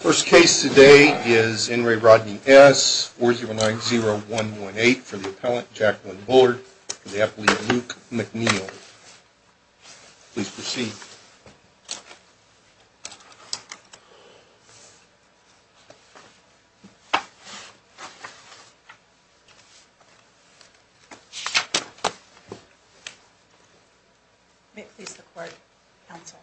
First case today is N. Ray Rodney S., 4090118, for the appellant, Jacqueline Bullard, for the appellate, Luke McNeil. Please proceed. May it please the Court, counsel.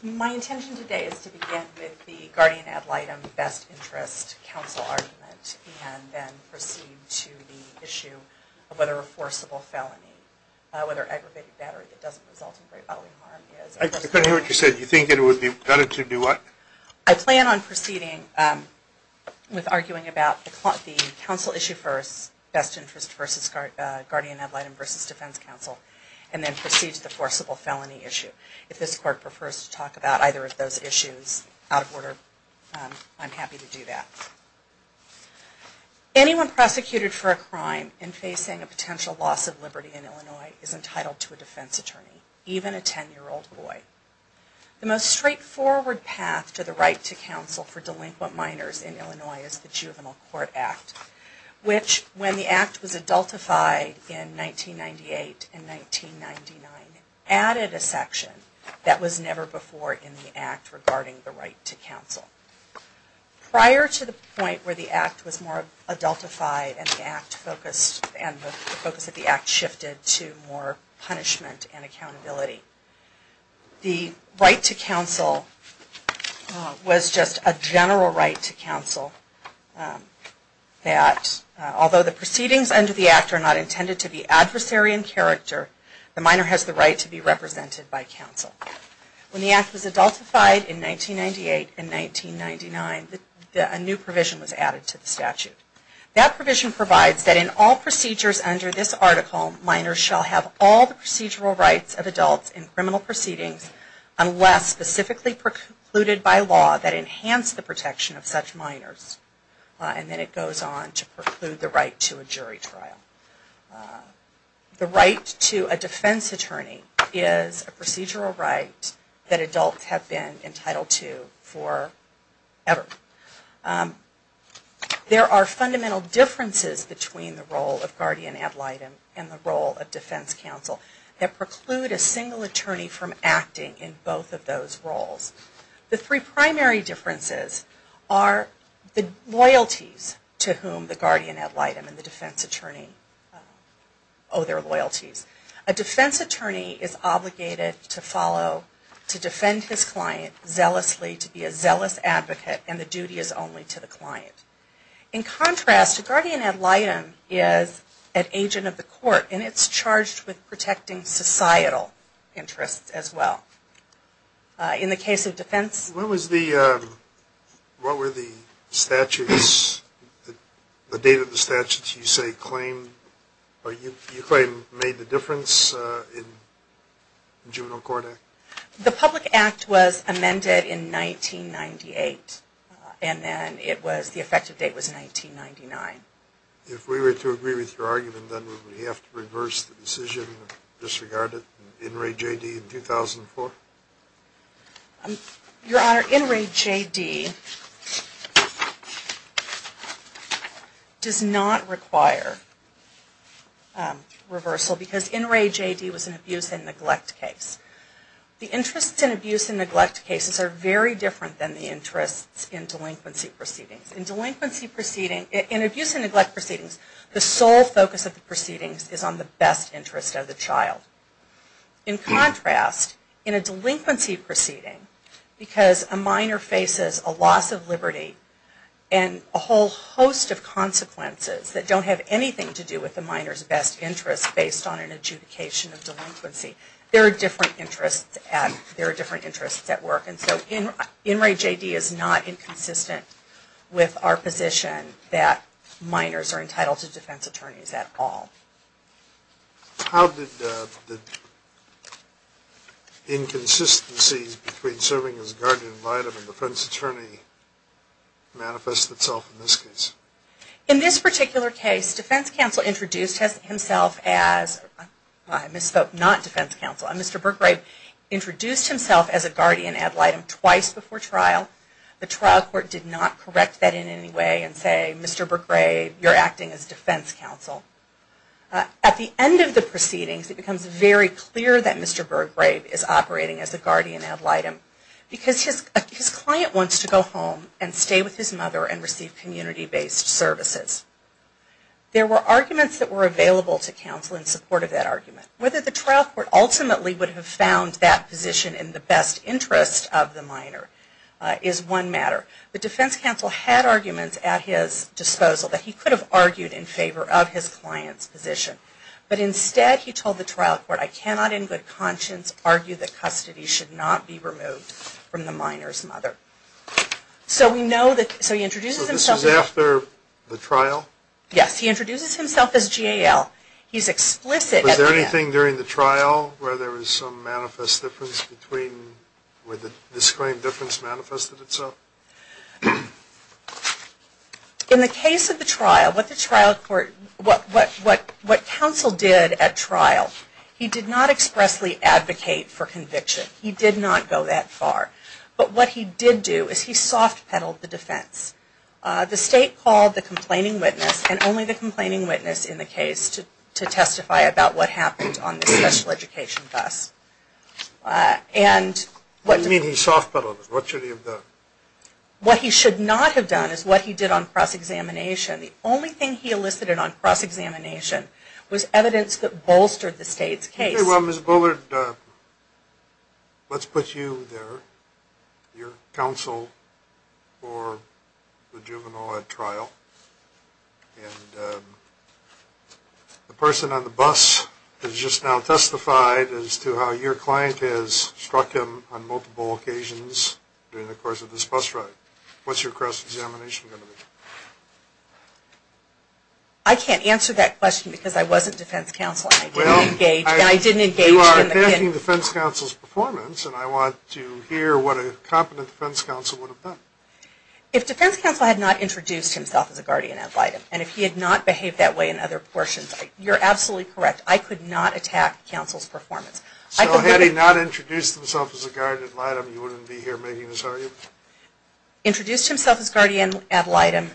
My intention today is to begin with the guardian ad litem best interest counsel argument and then proceed to the issue of whether a forcible felony, whether aggravated battery that doesn't result in grave bodily harm is a forcible felony. I couldn't hear what you said. You think it would be better to do what? I plan on proceeding with arguing about the counsel issue first, best interest versus guardian ad litem versus defense counsel, and then proceed to the forcible felony issue. If this Court prefers to talk about either of those issues out of order, I'm happy to do that. Anyone prosecuted for a crime in facing a potential loss of liberty in Illinois is entitled to a defense attorney, even a 10-year-old boy. The most straightforward path to the right to counsel for delinquent minors in Illinois is the Juvenile Court Act, which, when the Act was adultified in 1998 and 1999, added a section that was never before in the Act regarding the right to counsel. Prior to the point where the Act was more adultified and the focus of the Act shifted to more punishment and accountability, the right to counsel was just a general right to counsel that, although the proceedings under the Act are not intended to be adversary in character, the minor has the right to be represented by counsel. When the Act was adultified in 1998 and 1999, a new provision was added to the statute. That provision provides that in all procedures under this article, minors shall have all the procedural rights of adults in criminal proceedings unless specifically precluded by law that enhance the protection of such minors. And then it goes on to preclude the right to a jury trial. The right to a defense attorney is a procedural right that adults have been entitled to forever. There are fundamental differences between the role of guardian ad litem and the role of defense counsel that preclude a single attorney from acting in both of those roles. The three primary differences are the loyalties to whom the guardian ad litem and the defense attorney owe their loyalties. A defense attorney is obligated to follow, to defend his client zealously, to be a zealous advocate and the duty is only to the client. In contrast, a guardian ad litem is an agent of the court and it's charged with protecting societal interests as well. In the case of defense... When was the, what were the statutes, the date of the statutes you say claimed, or you claim made the difference in the Juvenile Court Act? The Public Act was amended in 1998 and then it was, the effective date was 1999. If we were to agree with your argument then would we have to reverse the decision and disregard it in In Re J D in 2004? Your Honor, In Re J D does not require reversal because In Re J D was an abuse and neglect case. The interests in abuse and neglect cases are very different than the interests in delinquency proceedings. In delinquency proceedings, in abuse and neglect proceedings, the sole focus of the proceedings is on the best interest of the child. In contrast, in a delinquency proceeding, because a minor faces a loss of liberty and a whole host of consequences that don't have anything to do with the minor's best interest based on an adjudication of delinquency, there are different interests at work. And so In Re J D is not inconsistent with our position that minors are entitled to defense attorneys at all. How did the inconsistencies between serving as guardian ad litem and defense attorney manifest itself in this case? In this particular case, defense counsel introduced himself as, I misspoke, not defense counsel, Mr. Berggrave introduced himself as a guardian ad litem twice before trial. The trial court did not correct that in any way and say, Mr. Berggrave, you're acting as defense counsel. At the end of the proceedings, it becomes very clear that Mr. Berggrave is operating as a guardian ad litem because his client wants to go home and stay with his mother and receive community-based services. There were arguments that were available to counsel in support of that argument. Whether the trial court ultimately would have found that position in the best interest of the minor is one matter. The defense counsel had arguments at his disposal that he could have argued in favor of his client's position. But instead, he told the trial court, I cannot in good conscience argue that custody should not be removed from the minor's mother. So we know that, so he introduces himself. So this is after the trial? Yes, he introduces himself as GAL. He's explicit at the end. Was there anything during the trial where there was some manifest difference between, where the disclaimed difference manifested itself? In the case of the trial, what the trial court, what counsel did at trial, he did not expressly advocate for conviction. He did not go that far. But what he did do is he soft-pedaled the defense. The state called the complaining witness, and only the complaining witness in the case, to testify about what happened on the special education bus. What do you mean he soft-pedaled it? What should he have done? What he should not have done is what he did on cross-examination. The only thing he elicited on cross-examination was evidence that bolstered the state's case. Okay, well, Ms. Bullard, let's put you there, your counsel for the juvenile at trial. And the person on the bus has just now testified as to how your client has struck him on multiple occasions during the course of this bus ride. What's your cross-examination going to be? I can't answer that question because I wasn't defense counsel, and I didn't engage in the case. Well, you are attacking defense counsel's performance, and I want to hear what a competent defense counsel would have done. If defense counsel had not introduced himself as a guardian ad litem, and if he had not behaved that way in other portions, you're absolutely correct. I could not attack counsel's performance. So had he not introduced himself as a guardian ad litem, you wouldn't be here making this argument? Introduced himself as guardian ad litem,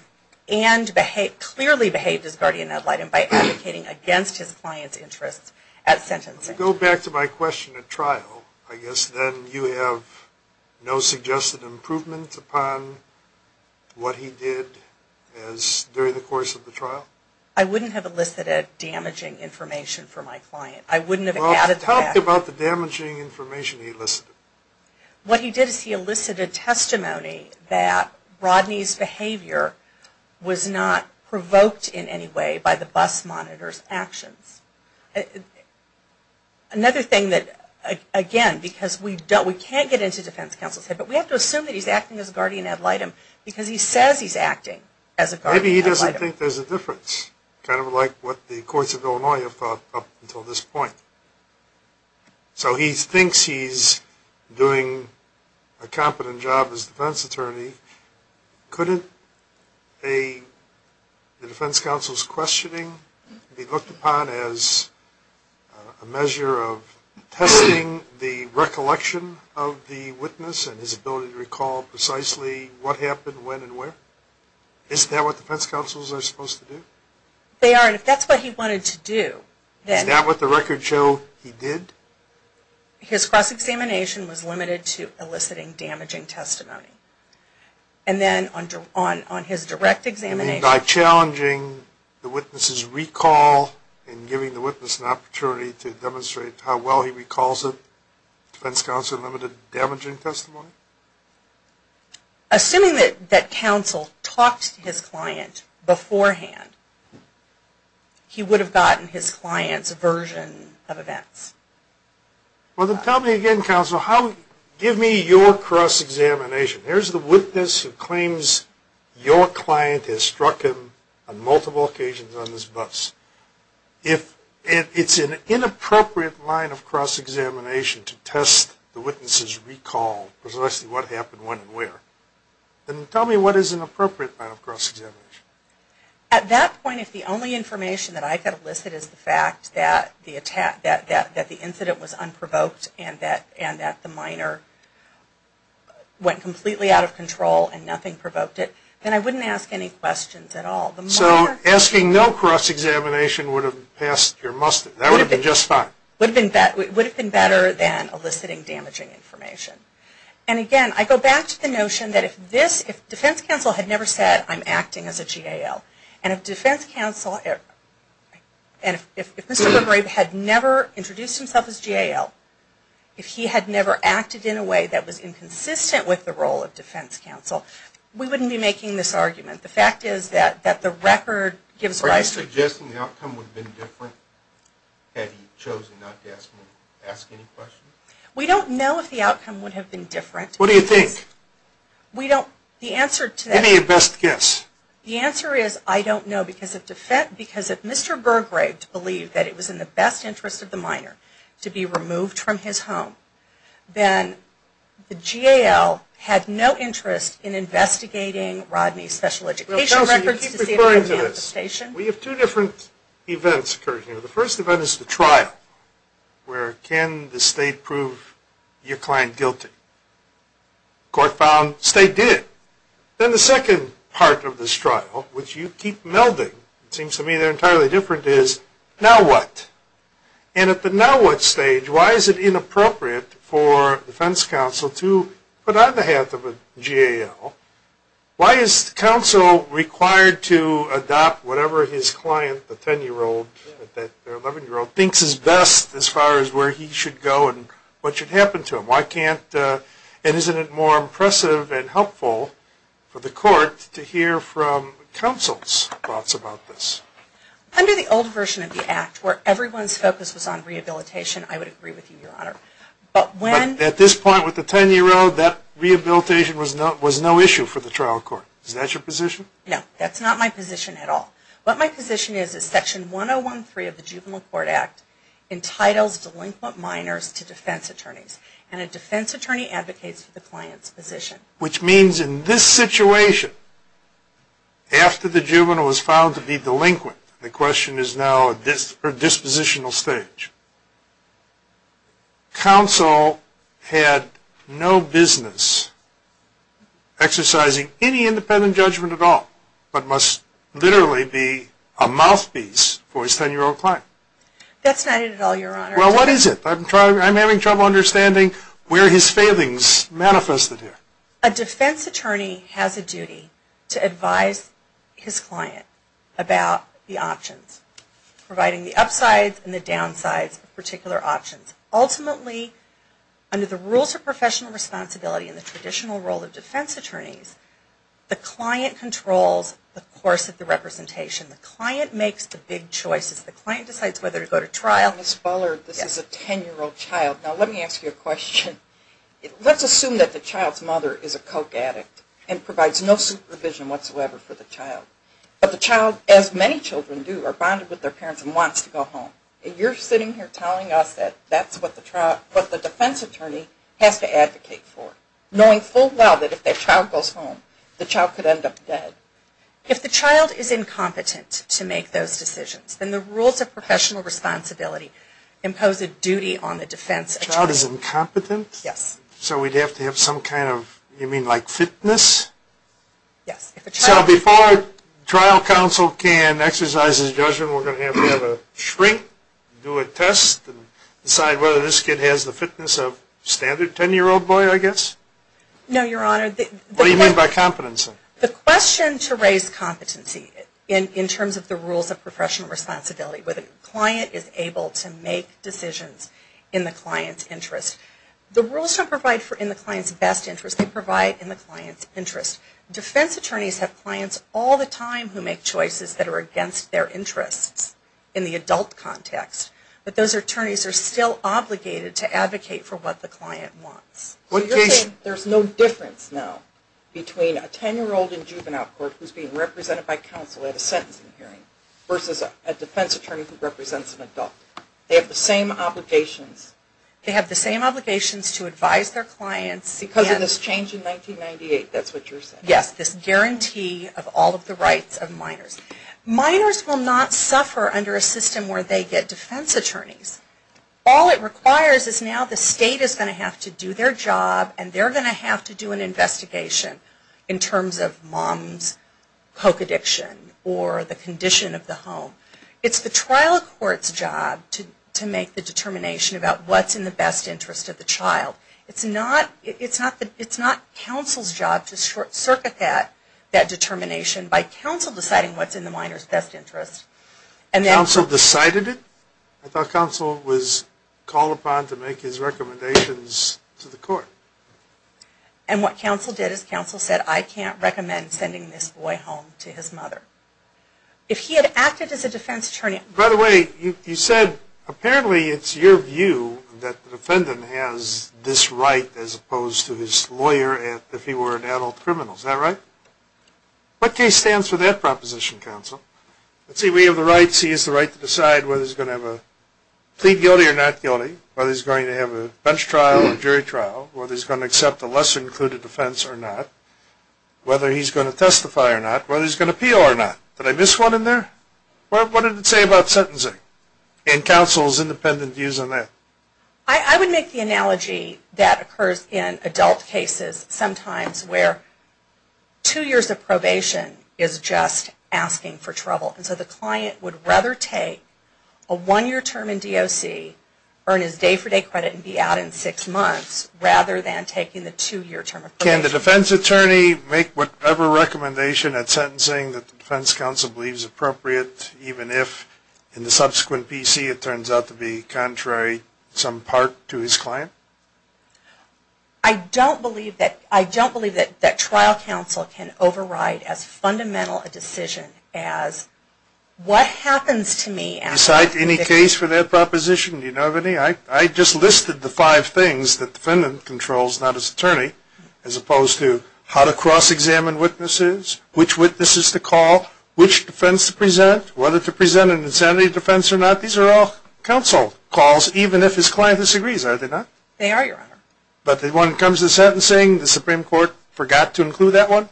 and clearly behaved as guardian ad litem by advocating against his client's interests at sentencing. To go back to my question at trial, I guess then you have no suggested improvement upon what he did during the course of the trial? I wouldn't have elicited damaging information for my client. Well, talk about the damaging information he elicited. What he did is he elicited testimony that Rodney's behavior was not provoked in any way by the bus monitor's actions. Another thing that, again, because we can't get into defense counsel's head, but we have to assume that he's acting as guardian ad litem, because he says he's acting as a guardian ad litem. Maybe he doesn't think there's a difference, kind of like what the courts of Illinois have thought up until this point. So he thinks he's doing a competent job as defense attorney. Couldn't a defense counsel's questioning be looked upon as a measure of testing the recollection of the witness and his ability to recall precisely what happened, when, and where? Isn't that what defense counsels are supposed to do? They are, and if that's what he wanted to do, then... Isn't that what the records show he did? His cross-examination was limited to eliciting damaging testimony. And then on his direct examination... You mean by challenging the witness's recall and giving the witness an opportunity to demonstrate how well he recalls it, defense counsel limited damaging testimony? Assuming that counsel talked to his client beforehand, he would have gotten his client's version of events. Well, then tell me again, counsel, how... Give me your cross-examination. Here's the witness who claims your client has struck him on multiple occasions on this bus. If it's an inappropriate line of cross-examination to test the witness's recall precisely what happened, when, and where, then tell me what is an appropriate line of cross-examination. At that point, if the only information that I could elicit is the fact that the incident was unprovoked and that the minor went completely out of control and nothing provoked it, then I wouldn't ask any questions at all. So asking no cross-examination would have passed your muster. That would have been just fine. It would have been better than eliciting damaging information. And again, I go back to the notion that if defense counsel had never said, I'm acting as a GAL, and if defense counsel had never introduced himself as GAL, if he had never acted in a way that was inconsistent with the role of defense counsel, we wouldn't be making this argument. The fact is that the record gives rise to... Are you suggesting the outcome would have been different had he chosen not to ask any questions? We don't know if the outcome would have been different. What do you think? We don't... Any best guess? The answer is I don't know because if Mr. Burgrave believed that it was in the best interest of the minor to be removed from his home, then the GAL had no interest in investigating Rodney's special education records... We have two different events occurring here. The first event is the trial, where can the state prove your client guilty? The court found the state did. Then the second part of this trial, which you keep melding, it seems to me they're entirely different, is now what? And at the now what stage, why is it inappropriate for defense counsel to put on behalf of a GAL? Why is counsel required to adopt whatever his client, the 10-year-old or 11-year-old, thinks is best as far as where he should go and what should happen to him? Why can't... And isn't it more impressive and helpful for the court to hear from counsel's thoughts about this? Under the old version of the Act, where everyone's focus was on rehabilitation, I would agree with you, Your Honor. But at this point with the 10-year-old, that rehabilitation was no issue for the trial court. Is that your position? No, that's not my position at all. What my position is, is Section 1013 of the Juvenile Court Act entitles delinquent minors to defense attorneys, and a defense attorney advocates for the client's position. Which means in this situation, after the juvenile was found to be delinquent, the question is now at a dispositional stage. Counsel had no business exercising any independent judgment at all, but must literally be a mouthpiece for his 10-year-old client. That's not it at all, Your Honor. Well, what is it? I'm having trouble understanding where his failings manifested here. A defense attorney has a duty to advise his client about the options, providing the upsides and the downsides of particular options. Ultimately, under the rules of professional responsibility and the traditional role of defense attorneys, the client controls the course of the representation. The client makes the big choices. The client decides whether to go to trial. Ms. Bullard, this is a 10-year-old child. Now, let me ask you a question. Let's assume that the child's mother is a coke addict and provides no supervision whatsoever for the child. But the child, as many children do, are bonded with their parents and wants to go home. And you're sitting here telling us that that's what the defense attorney has to advocate for, knowing full well that if that child goes home, the child could end up dead. If the child is incompetent to make those decisions, then the rules of professional responsibility impose a duty on the defense attorney. The child is incompetent? Yes. So we'd have to have some kind of, you mean like fitness? Yes. So before trial counsel can exercise his judgment, we're going to have to have a shrink, do a test, and decide whether this kid has the fitness of a standard 10-year-old boy, I guess? No, Your Honor. What do you mean by competency? The question to raise competency in terms of the rules of professional responsibility where the client is able to make decisions in the client's interest. The rules don't provide for in the client's best interest. They provide in the client's interest. Defense attorneys have clients all the time who make choices that are against their interests in the adult context. But those attorneys are still obligated to advocate for what the client wants. So you're saying there's no difference now between a 10-year-old in juvenile court who's being represented by counsel at a sentencing hearing versus a defense attorney who represents an adult. They have the same obligations. They have the same obligations to advise their clients. Because of this change in 1998, that's what you're saying? Yes. This guarantee of all of the rights of minors. Minors will not suffer under a system where they get defense attorneys. All it requires is now the state is going to have to do their job and they're going to have to do an investigation in terms of mom's coke addiction or the condition of the home. It's the trial court's job to make the determination about what's in the best interest of the child. It's not counsel's job to short-circuit that determination by counsel deciding what's in the minor's best interest. Counsel decided it? I thought counsel was called upon to make his recommendations to the court. And what counsel did is counsel said, I can't recommend sending this boy home to his mother. If he had acted as a defense attorney... By the way, you said apparently it's your view that the defendant has this right as opposed to his lawyer if he were an adult criminal. Is that right? What case stands for that proposition, counsel? Let's see, we have the rights. He has the right to decide whether he's going to plead guilty or not guilty, whether he's going to have a bench trial or jury trial, whether he's going to accept a lesser-included defense or not, whether he's going to testify or not, whether he's going to appeal or not. Did I miss one in there? What did it say about sentencing and counsel's independent views on that? I would make the analogy that occurs in adult cases sometimes where two years of probation is just asking for trouble. So the client would rather take a one-year term in DOC, earn his day-for-day credit and be out in six months rather than taking the two-year term of probation. Can the defense attorney make whatever recommendation at sentencing that the defense counsel believes appropriate even if in the subsequent PC it turns out to be contrary in some part to his client? I don't believe that trial counsel can override as fundamental a decision as what happens to me. Do you cite any case for that proposition? Do you know of any? I just listed the five things that the defendant controls, not his attorney, as opposed to how to cross-examine witnesses, which witnesses to call, which defense to present, whether to present an insanity defense or not. These are all counsel calls even if his client disagrees. Are they not? They are, Your Honor. But the one that comes to sentencing, the Supreme Court forgot to include that one?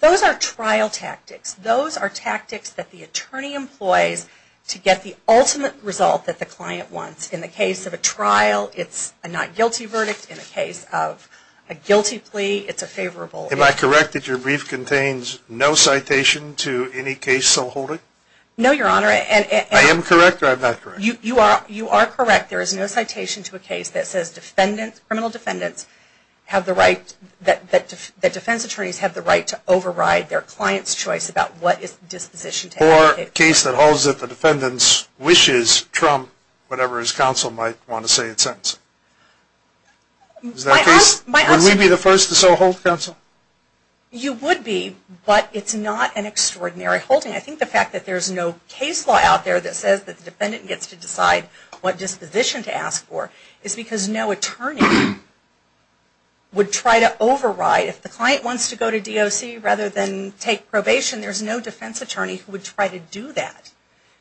Those are trial tactics. Those are tactics that the attorney employs to get the ultimate result that the client wants. In the case of a trial, it's a not guilty verdict. In the case of a guilty plea, it's a favorable. Am I correct that your brief contains no citation to any case so wholly? No, Your Honor. I am correct or I'm not correct? You are correct. In fact, there is no citation to a case that says criminal defendants have the right, that defense attorneys have the right to override their client's choice about what disposition to have. Or a case that holds if a defendant wishes to trump whatever his counsel might want to say in sentencing. Is that the case? Would we be the first to so hold, counsel? You would be, but it's not an extraordinary holding. I think the fact that there is no case law out there that says the defendant gets to decide what disposition to ask for is because no attorney would try to override. If the client wants to go to DOC rather than take probation, there is no defense attorney who would try to do that.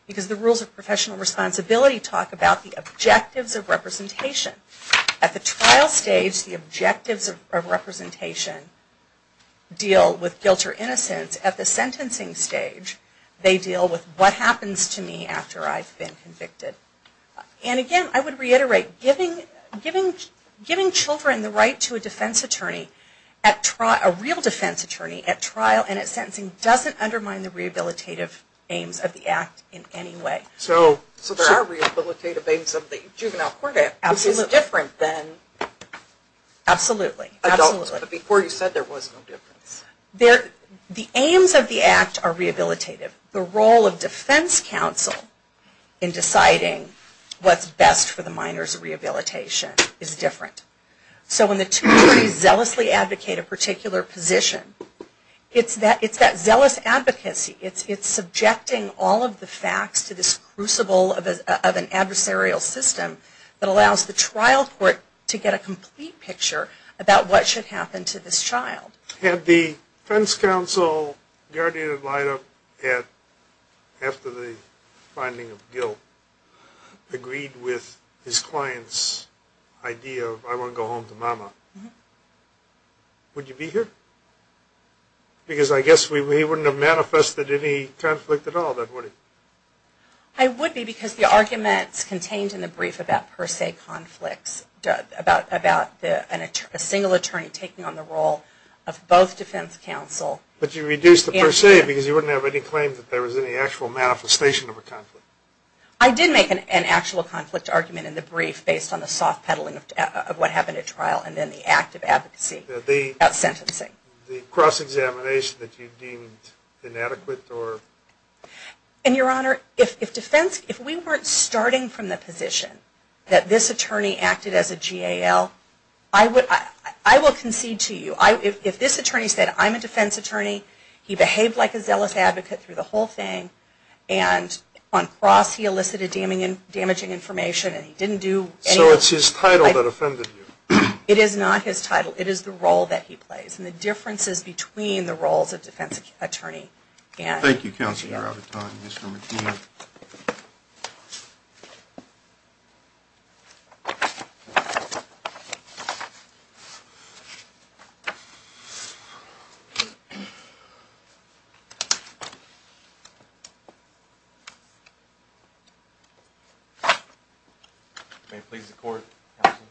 Because the rules of professional responsibility talk about the objectives of representation. At the trial stage, the objectives of representation deal with guilt or innocence. At the sentencing stage, they deal with what happens to me after I've been convicted. And again, I would reiterate, giving children the right to a defense attorney at trial, a real defense attorney at trial and at sentencing doesn't undermine the rehabilitative aims of the act in any way. So there are rehabilitative aims of the juvenile court. Absolutely. Which is different than... Absolutely. Before you said there was no difference. The aims of the act are rehabilitative. The role of defense counsel in deciding what's best for the minor's rehabilitation is different. So when the two attorneys zealously advocate a particular position, it's that zealous advocacy. It's subjecting all of the facts to this crucible of an adversarial system that allows the trial court to get a complete picture about what should happen to this child. Had the defense counsel, guardian of Lyda, after the finding of guilt, agreed with his client's idea of, I want to go home to Mama, would you be here? Because I guess he wouldn't have manifested any conflict at all, that would he? I would be because the arguments contained in the brief about per se conflicts, about a single attorney taking on the role of both defense counsel... But you reduced the per se because you wouldn't have any claims that there was any actual manifestation of a conflict. I did make an actual conflict argument in the brief based on the soft peddling of what happened at trial and then the act of advocacy about sentencing. The cross-examination that you deemed inadequate or... And your honor, if we weren't starting from the position that this attorney acted as a GAL, I will concede to you, if this attorney said I'm a defense attorney, he behaved like a zealous advocate through the whole thing, and on cross he elicited damaging information and he didn't do... So it's his title that offended you? It is not his title, it is the role that he plays and the differences between the roles of defense attorney and... Thank you, counsel, you're out of time. Mr. McNeil. May it please the court, counsel.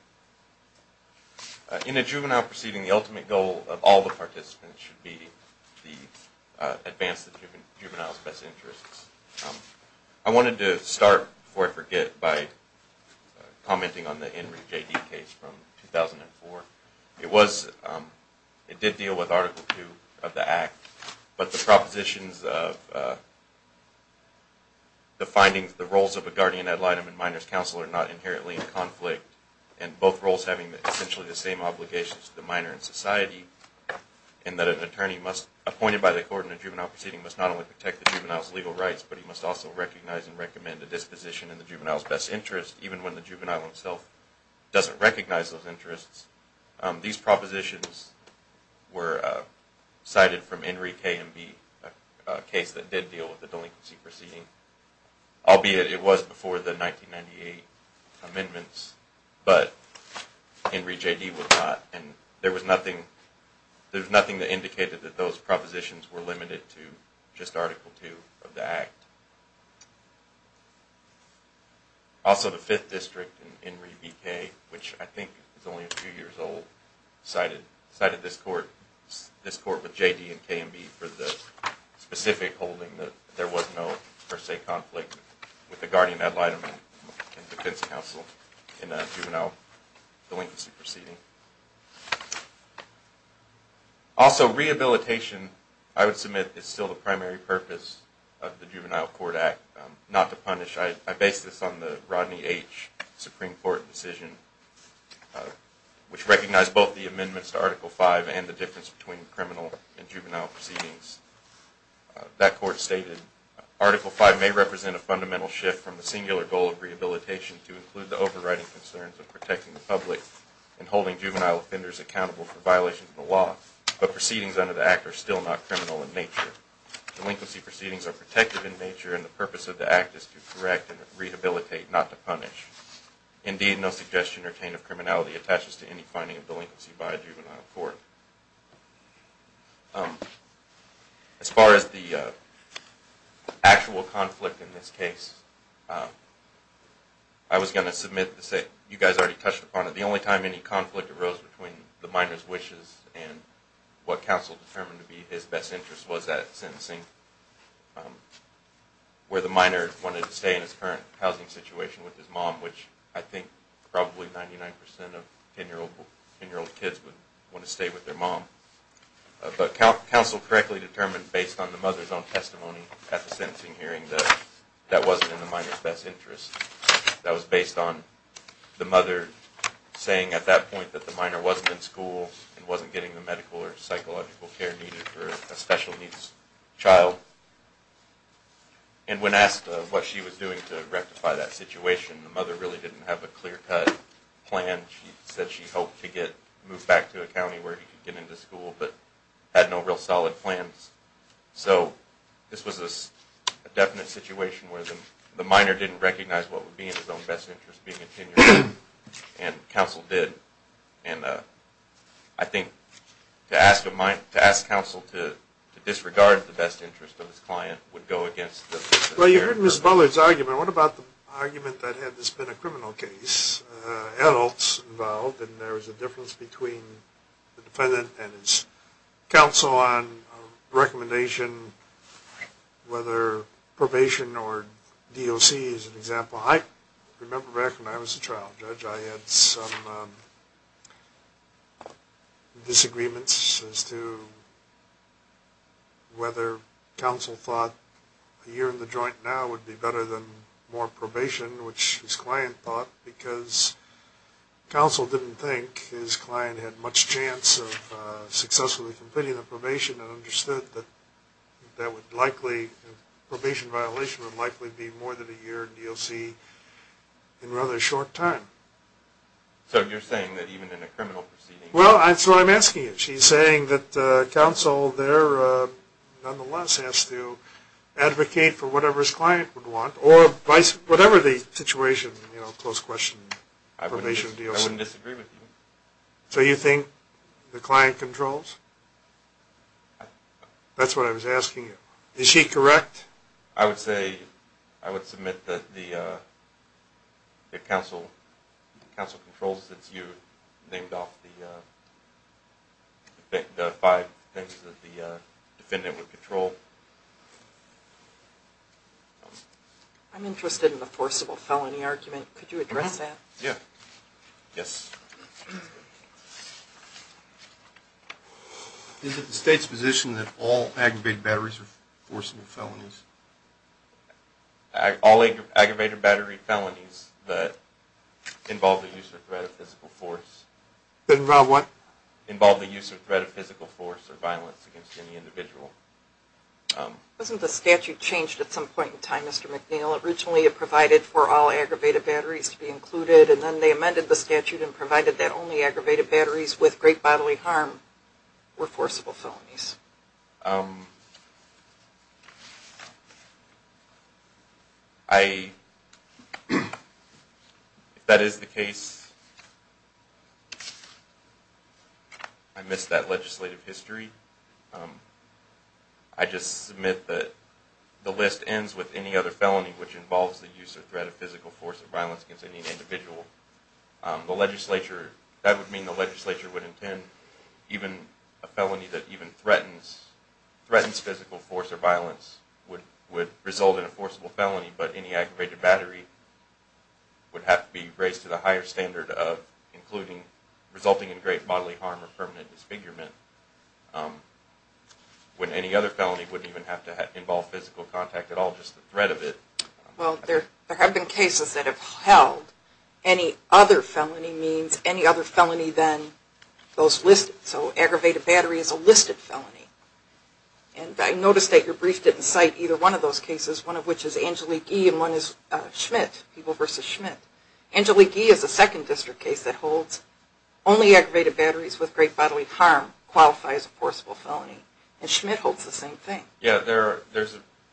In a juvenile proceeding, the ultimate goal of all the participants should be to advance the juvenile's best interests. I wanted to start, before I forget, by commenting on the Henry J.D. case from 2004. It did deal with Article II of the Act, but the propositions of the findings, the roles of a guardian ad litem and minors counsel are not inherently in conflict and both roles having essentially the same obligations to the minor and society, in that an attorney appointed by the court in a juvenile proceeding must not only protect the juvenile's legal rights, but he must also recognize and recommend a disposition in the juvenile's best interest, even when the juvenile himself doesn't recognize those interests. These propositions were cited from Henry K. and B., a case that did deal with the delinquency proceeding, albeit it was before the 1998 amendments, but Henry J.D. was not, and there was nothing that indicated that those propositions were limited to just Article II of the Act. Also, the Fifth District in Henry B.K., which I think is only a few years old, cited this court with J.D. and K. and B. for the specific holding that there was no per se conflict with the guardian ad litem and defense counsel in a juvenile delinquency proceeding. Also, rehabilitation, I would submit, is still the primary purpose of the Juvenile Court Act. I base this on the Rodney H. Supreme Court decision, which recognized both the amendments to Article V and the difference between criminal and juvenile proceedings. That court stated, Article V may represent a fundamental shift from the singular goal of rehabilitation to include the overriding concerns of protecting the public and holding juvenile offenders accountable for violations of the law, but proceedings under the Act are still not criminal in nature. Delinquency proceedings are protective in nature, and the purpose of the Act is to correct and rehabilitate, not to punish. Indeed, no suggestion or chain of criminality attaches to any finding of delinquency by a juvenile court. As far as the actual conflict in this case, I was going to submit to say, you guys already touched upon it, the only time any conflict arose between the minor's wishes and what counsel determined to be his best interest was at sentencing, where the minor wanted to stay in his current housing situation with his mom, which I think probably 99% of 10-year-old kids would want to stay with their mom. But counsel correctly determined, based on the mother's own testimony at the sentencing hearing, that that wasn't in the minor's best interest. That was based on the mother saying at that point that the minor wasn't in school and wasn't getting the medical or psychological care needed for a special needs child. And when asked what she was doing to rectify that situation, the mother really didn't have a clear-cut plan. She said she hoped to move back to a county where he could get into school, but had no real solid plans. So this was a definite situation where the minor didn't recognize what would be in his own best interest, and counsel did. And I think to ask counsel to disregard the best interest of his client would go against the... Well, you heard Ms. Bullard's argument. What about the argument that had this been a criminal case, adults involved, and there was a difference between the defendant and his counsel on a recommendation, whether probation or DOC is an example. Well, I remember back when I was a trial judge, I had some disagreements as to whether counsel thought a year in the joint now would be better than more probation, which his client thought because counsel didn't think his client had much chance of successfully completing the probation and understood that probation violation would likely be more than a year in DOC in rather a short time. So you're saying that even in a criminal proceeding... Well, that's what I'm asking you. She's saying that counsel there nonetheless has to advocate for whatever his client would want, or whatever the situation, you know, close question, probation, DOC. I wouldn't disagree with you. So you think the client controls? That's what I was asking you. Is she correct? I would say I would submit that the counsel controls since you named off the five things that the defendant would control. I'm interested in the forcible felony argument. Could you address that? Yeah. Yes. Is it the state's position that all aggravated batteries are forcible felonies? All aggravated battery felonies that involve the use or threat of physical force... Involve what? Involve the use or threat of physical force or violence against any individual. Wasn't the statute changed at some point in time, Mr. McNeil? Originally it provided for all aggravated batteries to be included, and then they amended the statute and provided that only aggravated batteries with great bodily harm were forcible felonies. I... If that is the case, I miss that legislative history. I just submit that the list ends with any other felony which involves the use or threat of physical force or violence against any individual. The legislature... That would mean the legislature would intend even a felony that even threatens physical force or violence would result in a forcible felony, but any aggravated battery would have to be raised to the higher standard of including... resulting in great bodily harm or permanent disfigurement, when any other felony wouldn't even have to involve physical contact at all, just the threat of it. Well, there have been cases that have held any other felony means any other felony than those listed. So aggravated battery is a listed felony. And I noticed that your brief didn't cite either one of those cases, one of which is Angelique Gee and one is Schmidt, people versus Schmidt. Angelique Gee is a second district case that holds only aggravated batteries with great bodily harm qualify as a forcible felony. And Schmidt holds the same thing. Yeah, there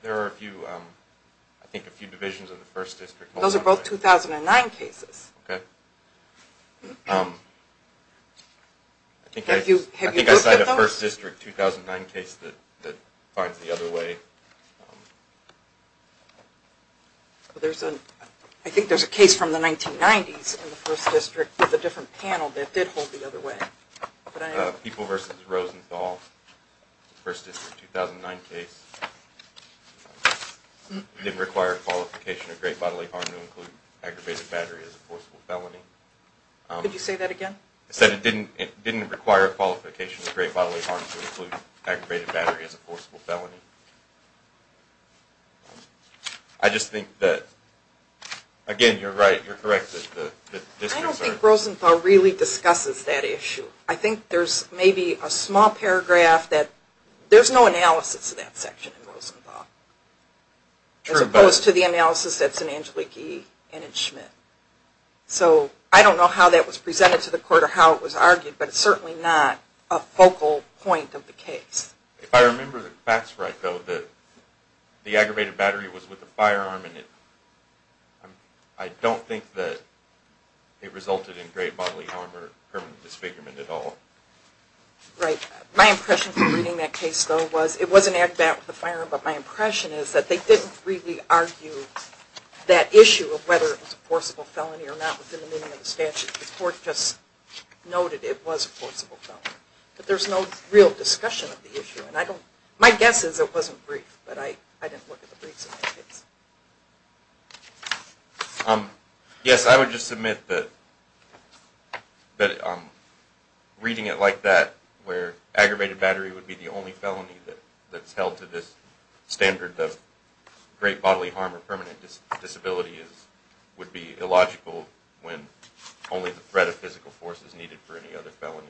are a few, I think a few divisions in the first district. Those are both 2009 cases. Okay. Have you looked at those? I think I cited a first district 2009 case that finds the other way. I think there's a case from the 1990s in the first district with a different panel that did hold the other way. People versus Rosenthal, first district 2009 case. Didn't require qualification of great bodily harm to include aggravated battery as a forcible felony. Could you say that again? It said it didn't require qualification of great bodily harm to include aggravated battery as a forcible felony. I just think that, again, you're right, you're correct that the districts are... I don't think Rosenthal really discusses that issue. I think there's maybe a small paragraph that, there's no analysis of that section in Rosenthal. As opposed to the analysis that's in Angelique Gee and in Schmidt. So I don't know how that was presented to the court or how it was argued. But it's certainly not a focal point of the case. If I remember the facts right though, the aggravated battery was with a firearm. I don't think that it resulted in great bodily harm or permanent disfigurement at all. Right. My impression from reading that case though was, it was an aggravated battery with a firearm. But my impression is that they didn't really argue that issue of whether it was a forcible felony or not within the meaning of the statute. The court just noted it was a forcible felony. But there's no real discussion of the issue. My guess is it wasn't briefed, but I didn't look at the briefs in that case. Yes, I would just submit that reading it like that, where aggravated battery would be the only felony that's held to this standard that great bodily harm or permanent disability would be illogical when only the threat of physical force is needed for any other felony.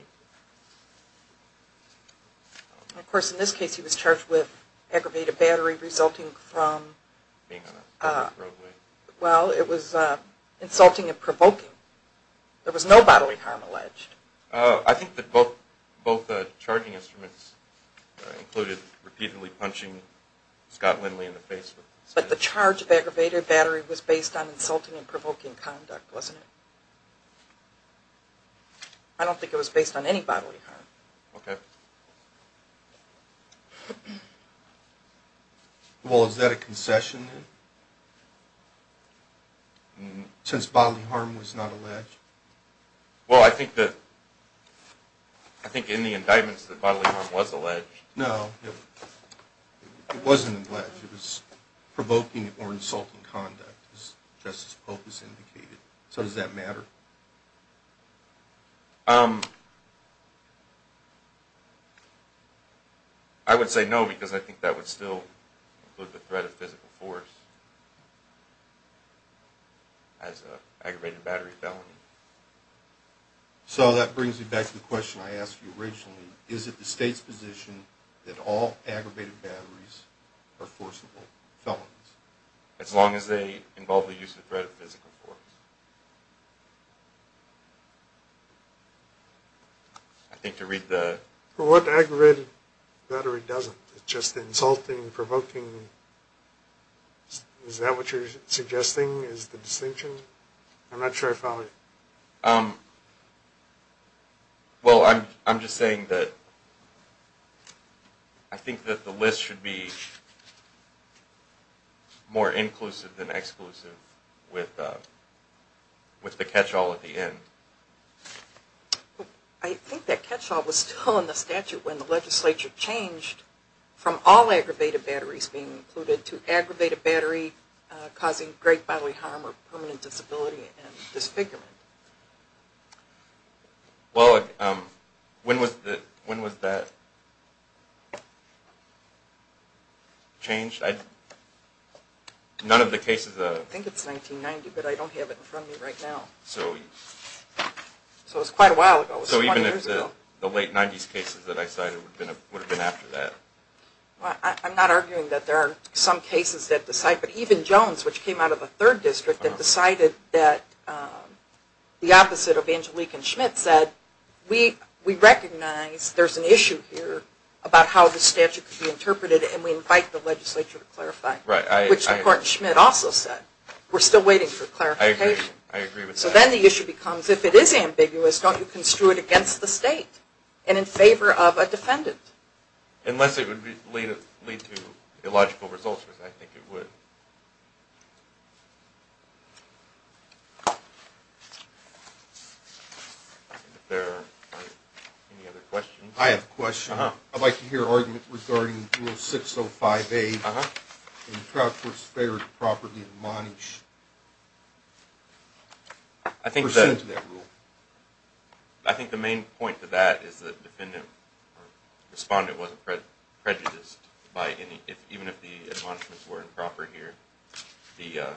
Of course, in this case he was charged with aggravated battery resulting from... Being on a roadway. Well, it was insulting and provoking. There was no bodily harm alleged. I think that both charging instruments included repeatedly punching Scott Lindley in the face. But the charge of aggravated battery was based on insulting and provoking conduct, wasn't it? I don't think it was based on any bodily harm. Okay. Well, is that a concession then? Since bodily harm was not alleged? Well, I think that... I think in the indictments that bodily harm was alleged. No, it wasn't alleged. It was provoking or insulting conduct, as Justice Polk has indicated. So does that matter? I would say no, because I think that would still include the threat of physical force as an aggravated battery felony. So that brings me back to the question I asked you originally. Is it the state's position that all aggravated batteries are forcible felonies? As long as they involve the use of the threat of physical force. I think to read the... Well, what aggravated battery doesn't? It's just insulting, provoking. Is that what you're suggesting is the distinction? I'm not sure I follow you. Well, I'm just saying that... I think that the list should be more inclusive than exclusive with the catch-all at the end. I think that catch-all was still in the statute when the legislature changed from all aggravated batteries being included to aggravated battery causing great bodily harm or permanent disability and disfigurement. Well, when was that changed? None of the cases... I think it's 1990, but I don't have it in front of me right now. So it was quite a while ago. So even if the late 90s cases that I cited would have been after that. I'm not arguing that there are some cases that decide, but even Jones, which came out of the third district, that decided that the opposite of Angelique and Schmidt said, we recognize there's an issue here about how the statute could be interpreted and we invite the legislature to clarify. Right. Which, of course, Schmidt also said. We're still waiting for clarification. I agree with that. So then the issue becomes, if it is ambiguous, don't you construe it against the state and in favor of a defendant? Unless it would lead to illogical results, which I think it would. Are there any other questions? I have a question. I'd like to hear an argument regarding Rule 6058 and the Trout Court's failure to properly admonish. I think the main point to that is the defendant or respondent wasn't prejudiced by any, even if the admonishments were improper here. The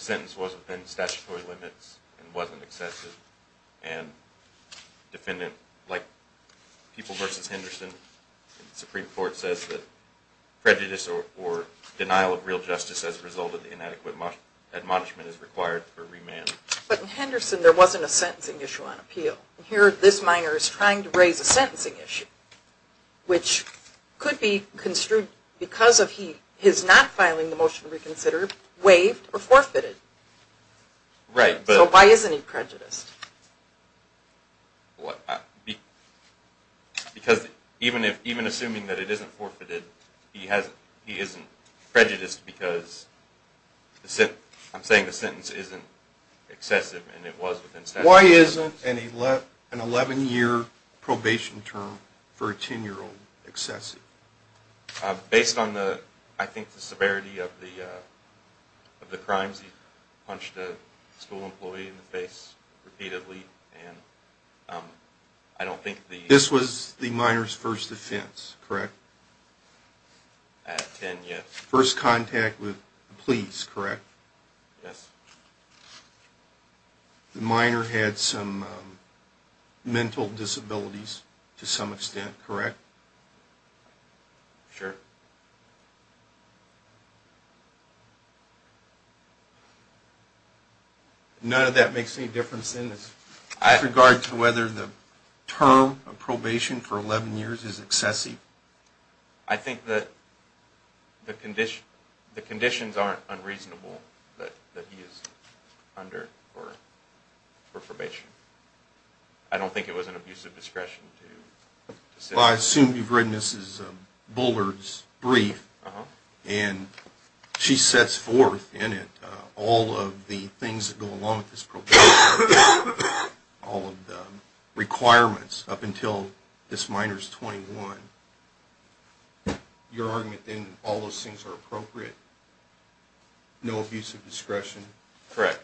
sentence was within statutory limits and wasn't excessive. And defendant, like People v. Henderson, the Supreme Court says that prejudice or denial of real justice as a result of inadequate admonishment is required for remand. But in Henderson, there wasn't a sentencing issue on appeal. Here, this minor is trying to raise a sentencing issue, which could be construed because of his not filing the motion to reconsider, waived or forfeited. Right. So why isn't he prejudiced? What? Because even assuming that it isn't forfeited, he isn't prejudiced because I'm saying the sentence isn't excessive and it was within statutory limits. Why isn't an 11-year probation term for a 10-year-old excessive? Based on, I think, the severity of the crimes. Sometimes he punched a school employee in the face repeatedly. This was the minor's first offense, correct? At 10, yes. First contact with the police, correct? Yes. The minor had some mental disabilities to some extent, correct? Sure. None of that makes any difference in this with regard to whether the term of probation for 11 years is excessive. I think that the conditions aren't unreasonable that he is under for probation. I don't think it was an abuse of discretion. Well, I assume you've read Mrs. Bullard's brief, and she sets forth in it all of the things that go along with this probation, all of the requirements up until this minor's 21. Your argument, then, all those things are appropriate? No abuse of discretion? Correct.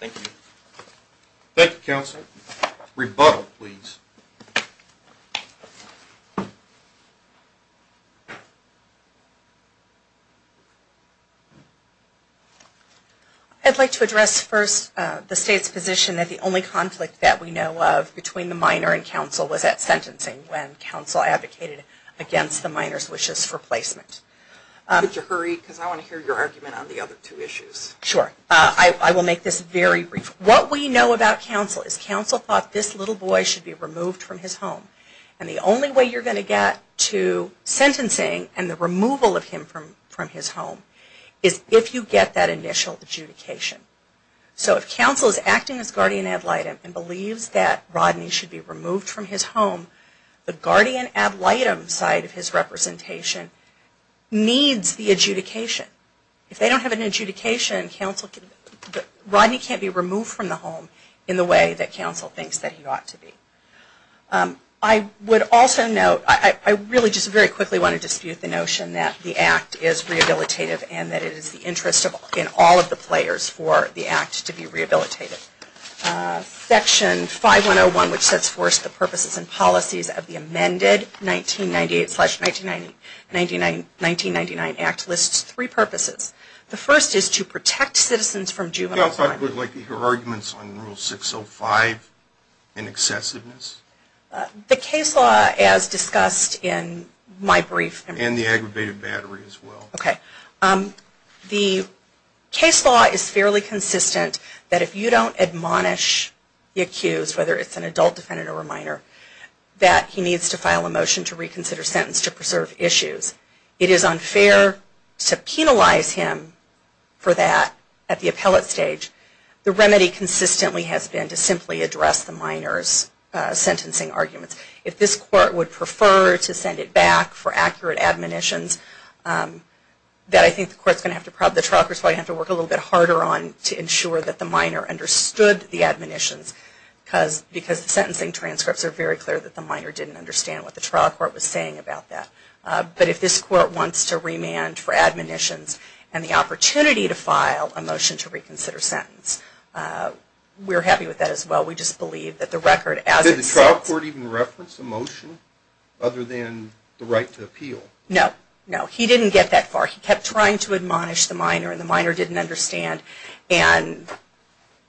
Thank you. Thank you, Counsel. Rebuttal, please. I'd like to address first the State's position that the only conflict that we know of between the minor and Counsel was at sentencing when Counsel advocated against the minor's wishes for placement. Could you hurry? Because I want to hear your argument on the other two issues. Sure. I will make this very brief. What we know about Counsel is Counsel thought this little boy should be removed from his home and the only way you're going to get to sentencing and the removal of him from his home is if you get that initial adjudication. So if Counsel is acting as guardian ad litem and believes that Rodney should be removed from his home, the guardian ad litem side of his representation needs the adjudication. If they don't have an adjudication, Rodney can't be removed from the home in the way that Counsel thinks that he ought to be. I would also note, I really just very quickly want to dispute the notion that the Act is rehabilitative and that it is the interest in all of the players for the Act to be rehabilitative. Section 5101, which sets forth the purposes and policies of the amended 1998-1999 Act, lists three purposes. The first is to protect citizens from juvenile crime. I would like to hear arguments on Rule 605 in excessiveness. The case law as discussed in my brief. And the aggravated battery as well. Okay. The case law is fairly consistent that if you don't admonish the accused, whether it's an adult defendant or a minor, that he needs to file a motion to reconsider sentence to preserve issues. It is unfair to penalize him for that at the appellate stage. The remedy consistently has been to simply address the minor's sentencing arguments. If this Court would prefer to send it back for accurate admonitions, then I think the Court's going to have to probably, the trial court's probably going to have to work a little bit harder on to ensure that the minor understood the admonitions because the sentencing transcripts are very clear that the minor didn't understand what the trial court was saying about that. But if this Court wants to remand for admonitions and the opportunity to file a motion to reconsider sentence, we're happy with that as well. We just believe that the record as it stands... Did the trial court even reference the motion other than the right to appeal? No. No. He didn't get that far. He kept trying to admonish the minor and the minor didn't understand. And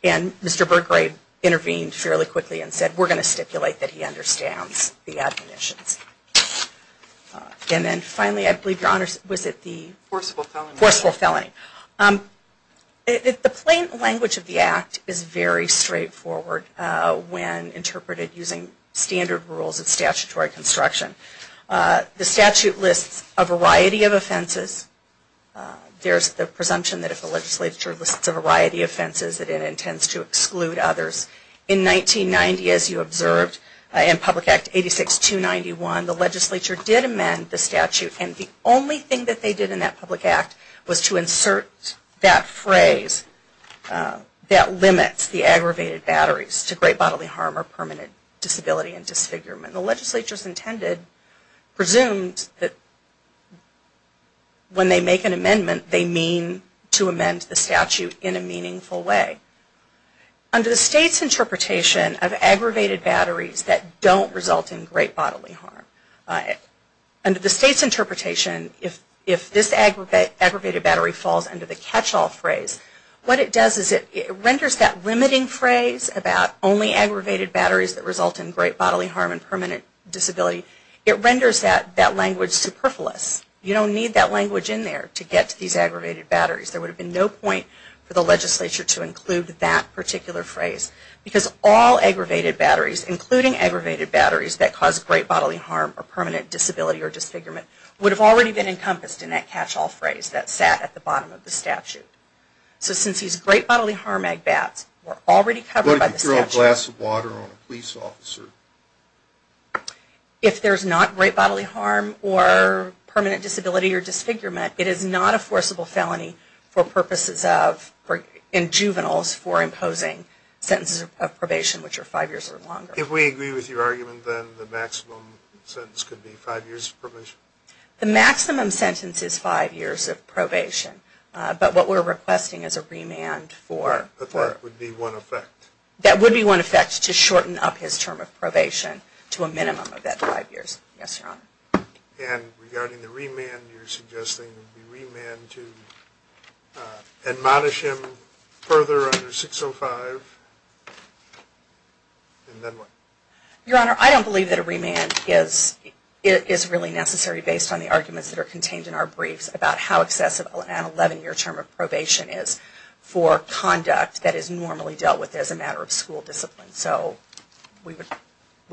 Mr. Burgrave intervened fairly quickly and said we're going to stipulate that he understands the admonitions. And then finally, I believe, Your Honors, was it the... Forcible felony. Forcible felony. The plain language of the Act is very straightforward when interpreted using standard rules of statutory construction. The statute lists a variety of offenses. There's the presumption that if a legislature lists a variety of offenses that it intends to exclude others. In 1990, as you observed, in Public Act 86291, the legislature did amend the statute and the only thing that they did in that public act was to insert that phrase that limits the aggravated batteries to great bodily harm or permanent disability and disfigurement. The legislature's intended, presumed, that when they make an amendment, they mean to amend the statute in a meaningful way. Under the state's interpretation of aggravated batteries that don't result in great bodily harm, under the state's interpretation, if this aggravated battery falls under the catch-all phrase, what it does is it renders that limiting phrase about only aggravated batteries that result in great bodily harm and permanent disability, it renders that language superfluous. You don't need that language in there to get to these aggravated batteries. There would have been no point for the legislature to include that particular phrase because all aggravated batteries, including aggravated batteries that cause great bodily harm or permanent disability or disfigurement, would have already been encompassed in that catch-all phrase that sat at the bottom of the statute. So since these great bodily harm agbats were already covered by the statute... What if you throw a glass of water on a police officer? If there's not great bodily harm or permanent disability or disfigurement, it is not a forcible felony in juveniles for imposing sentences of probation which are five years or longer. If we agree with your argument, then the maximum sentence could be five years of probation? The maximum sentence is five years of probation. But what we're requesting is a remand for... That would be one effect. That would be one effect to shorten up his term of probation to a minimum of that five years. Yes, Your Honor. And regarding the remand, you're suggesting a remand to admonish him further under 605 and then what? Your Honor, I don't believe that a remand is really necessary based on the arguments that are contained in our briefs about how excessive an 11-year term of probation is for conduct that is normally dealt with as a matter of school discipline. So we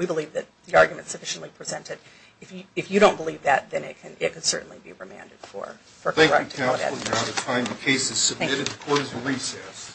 believe that the argument is sufficiently presented. If you don't believe that, then it can certainly be remanded for... Thank you, counsel. We're out of time. The case is submitted. The court is in recess.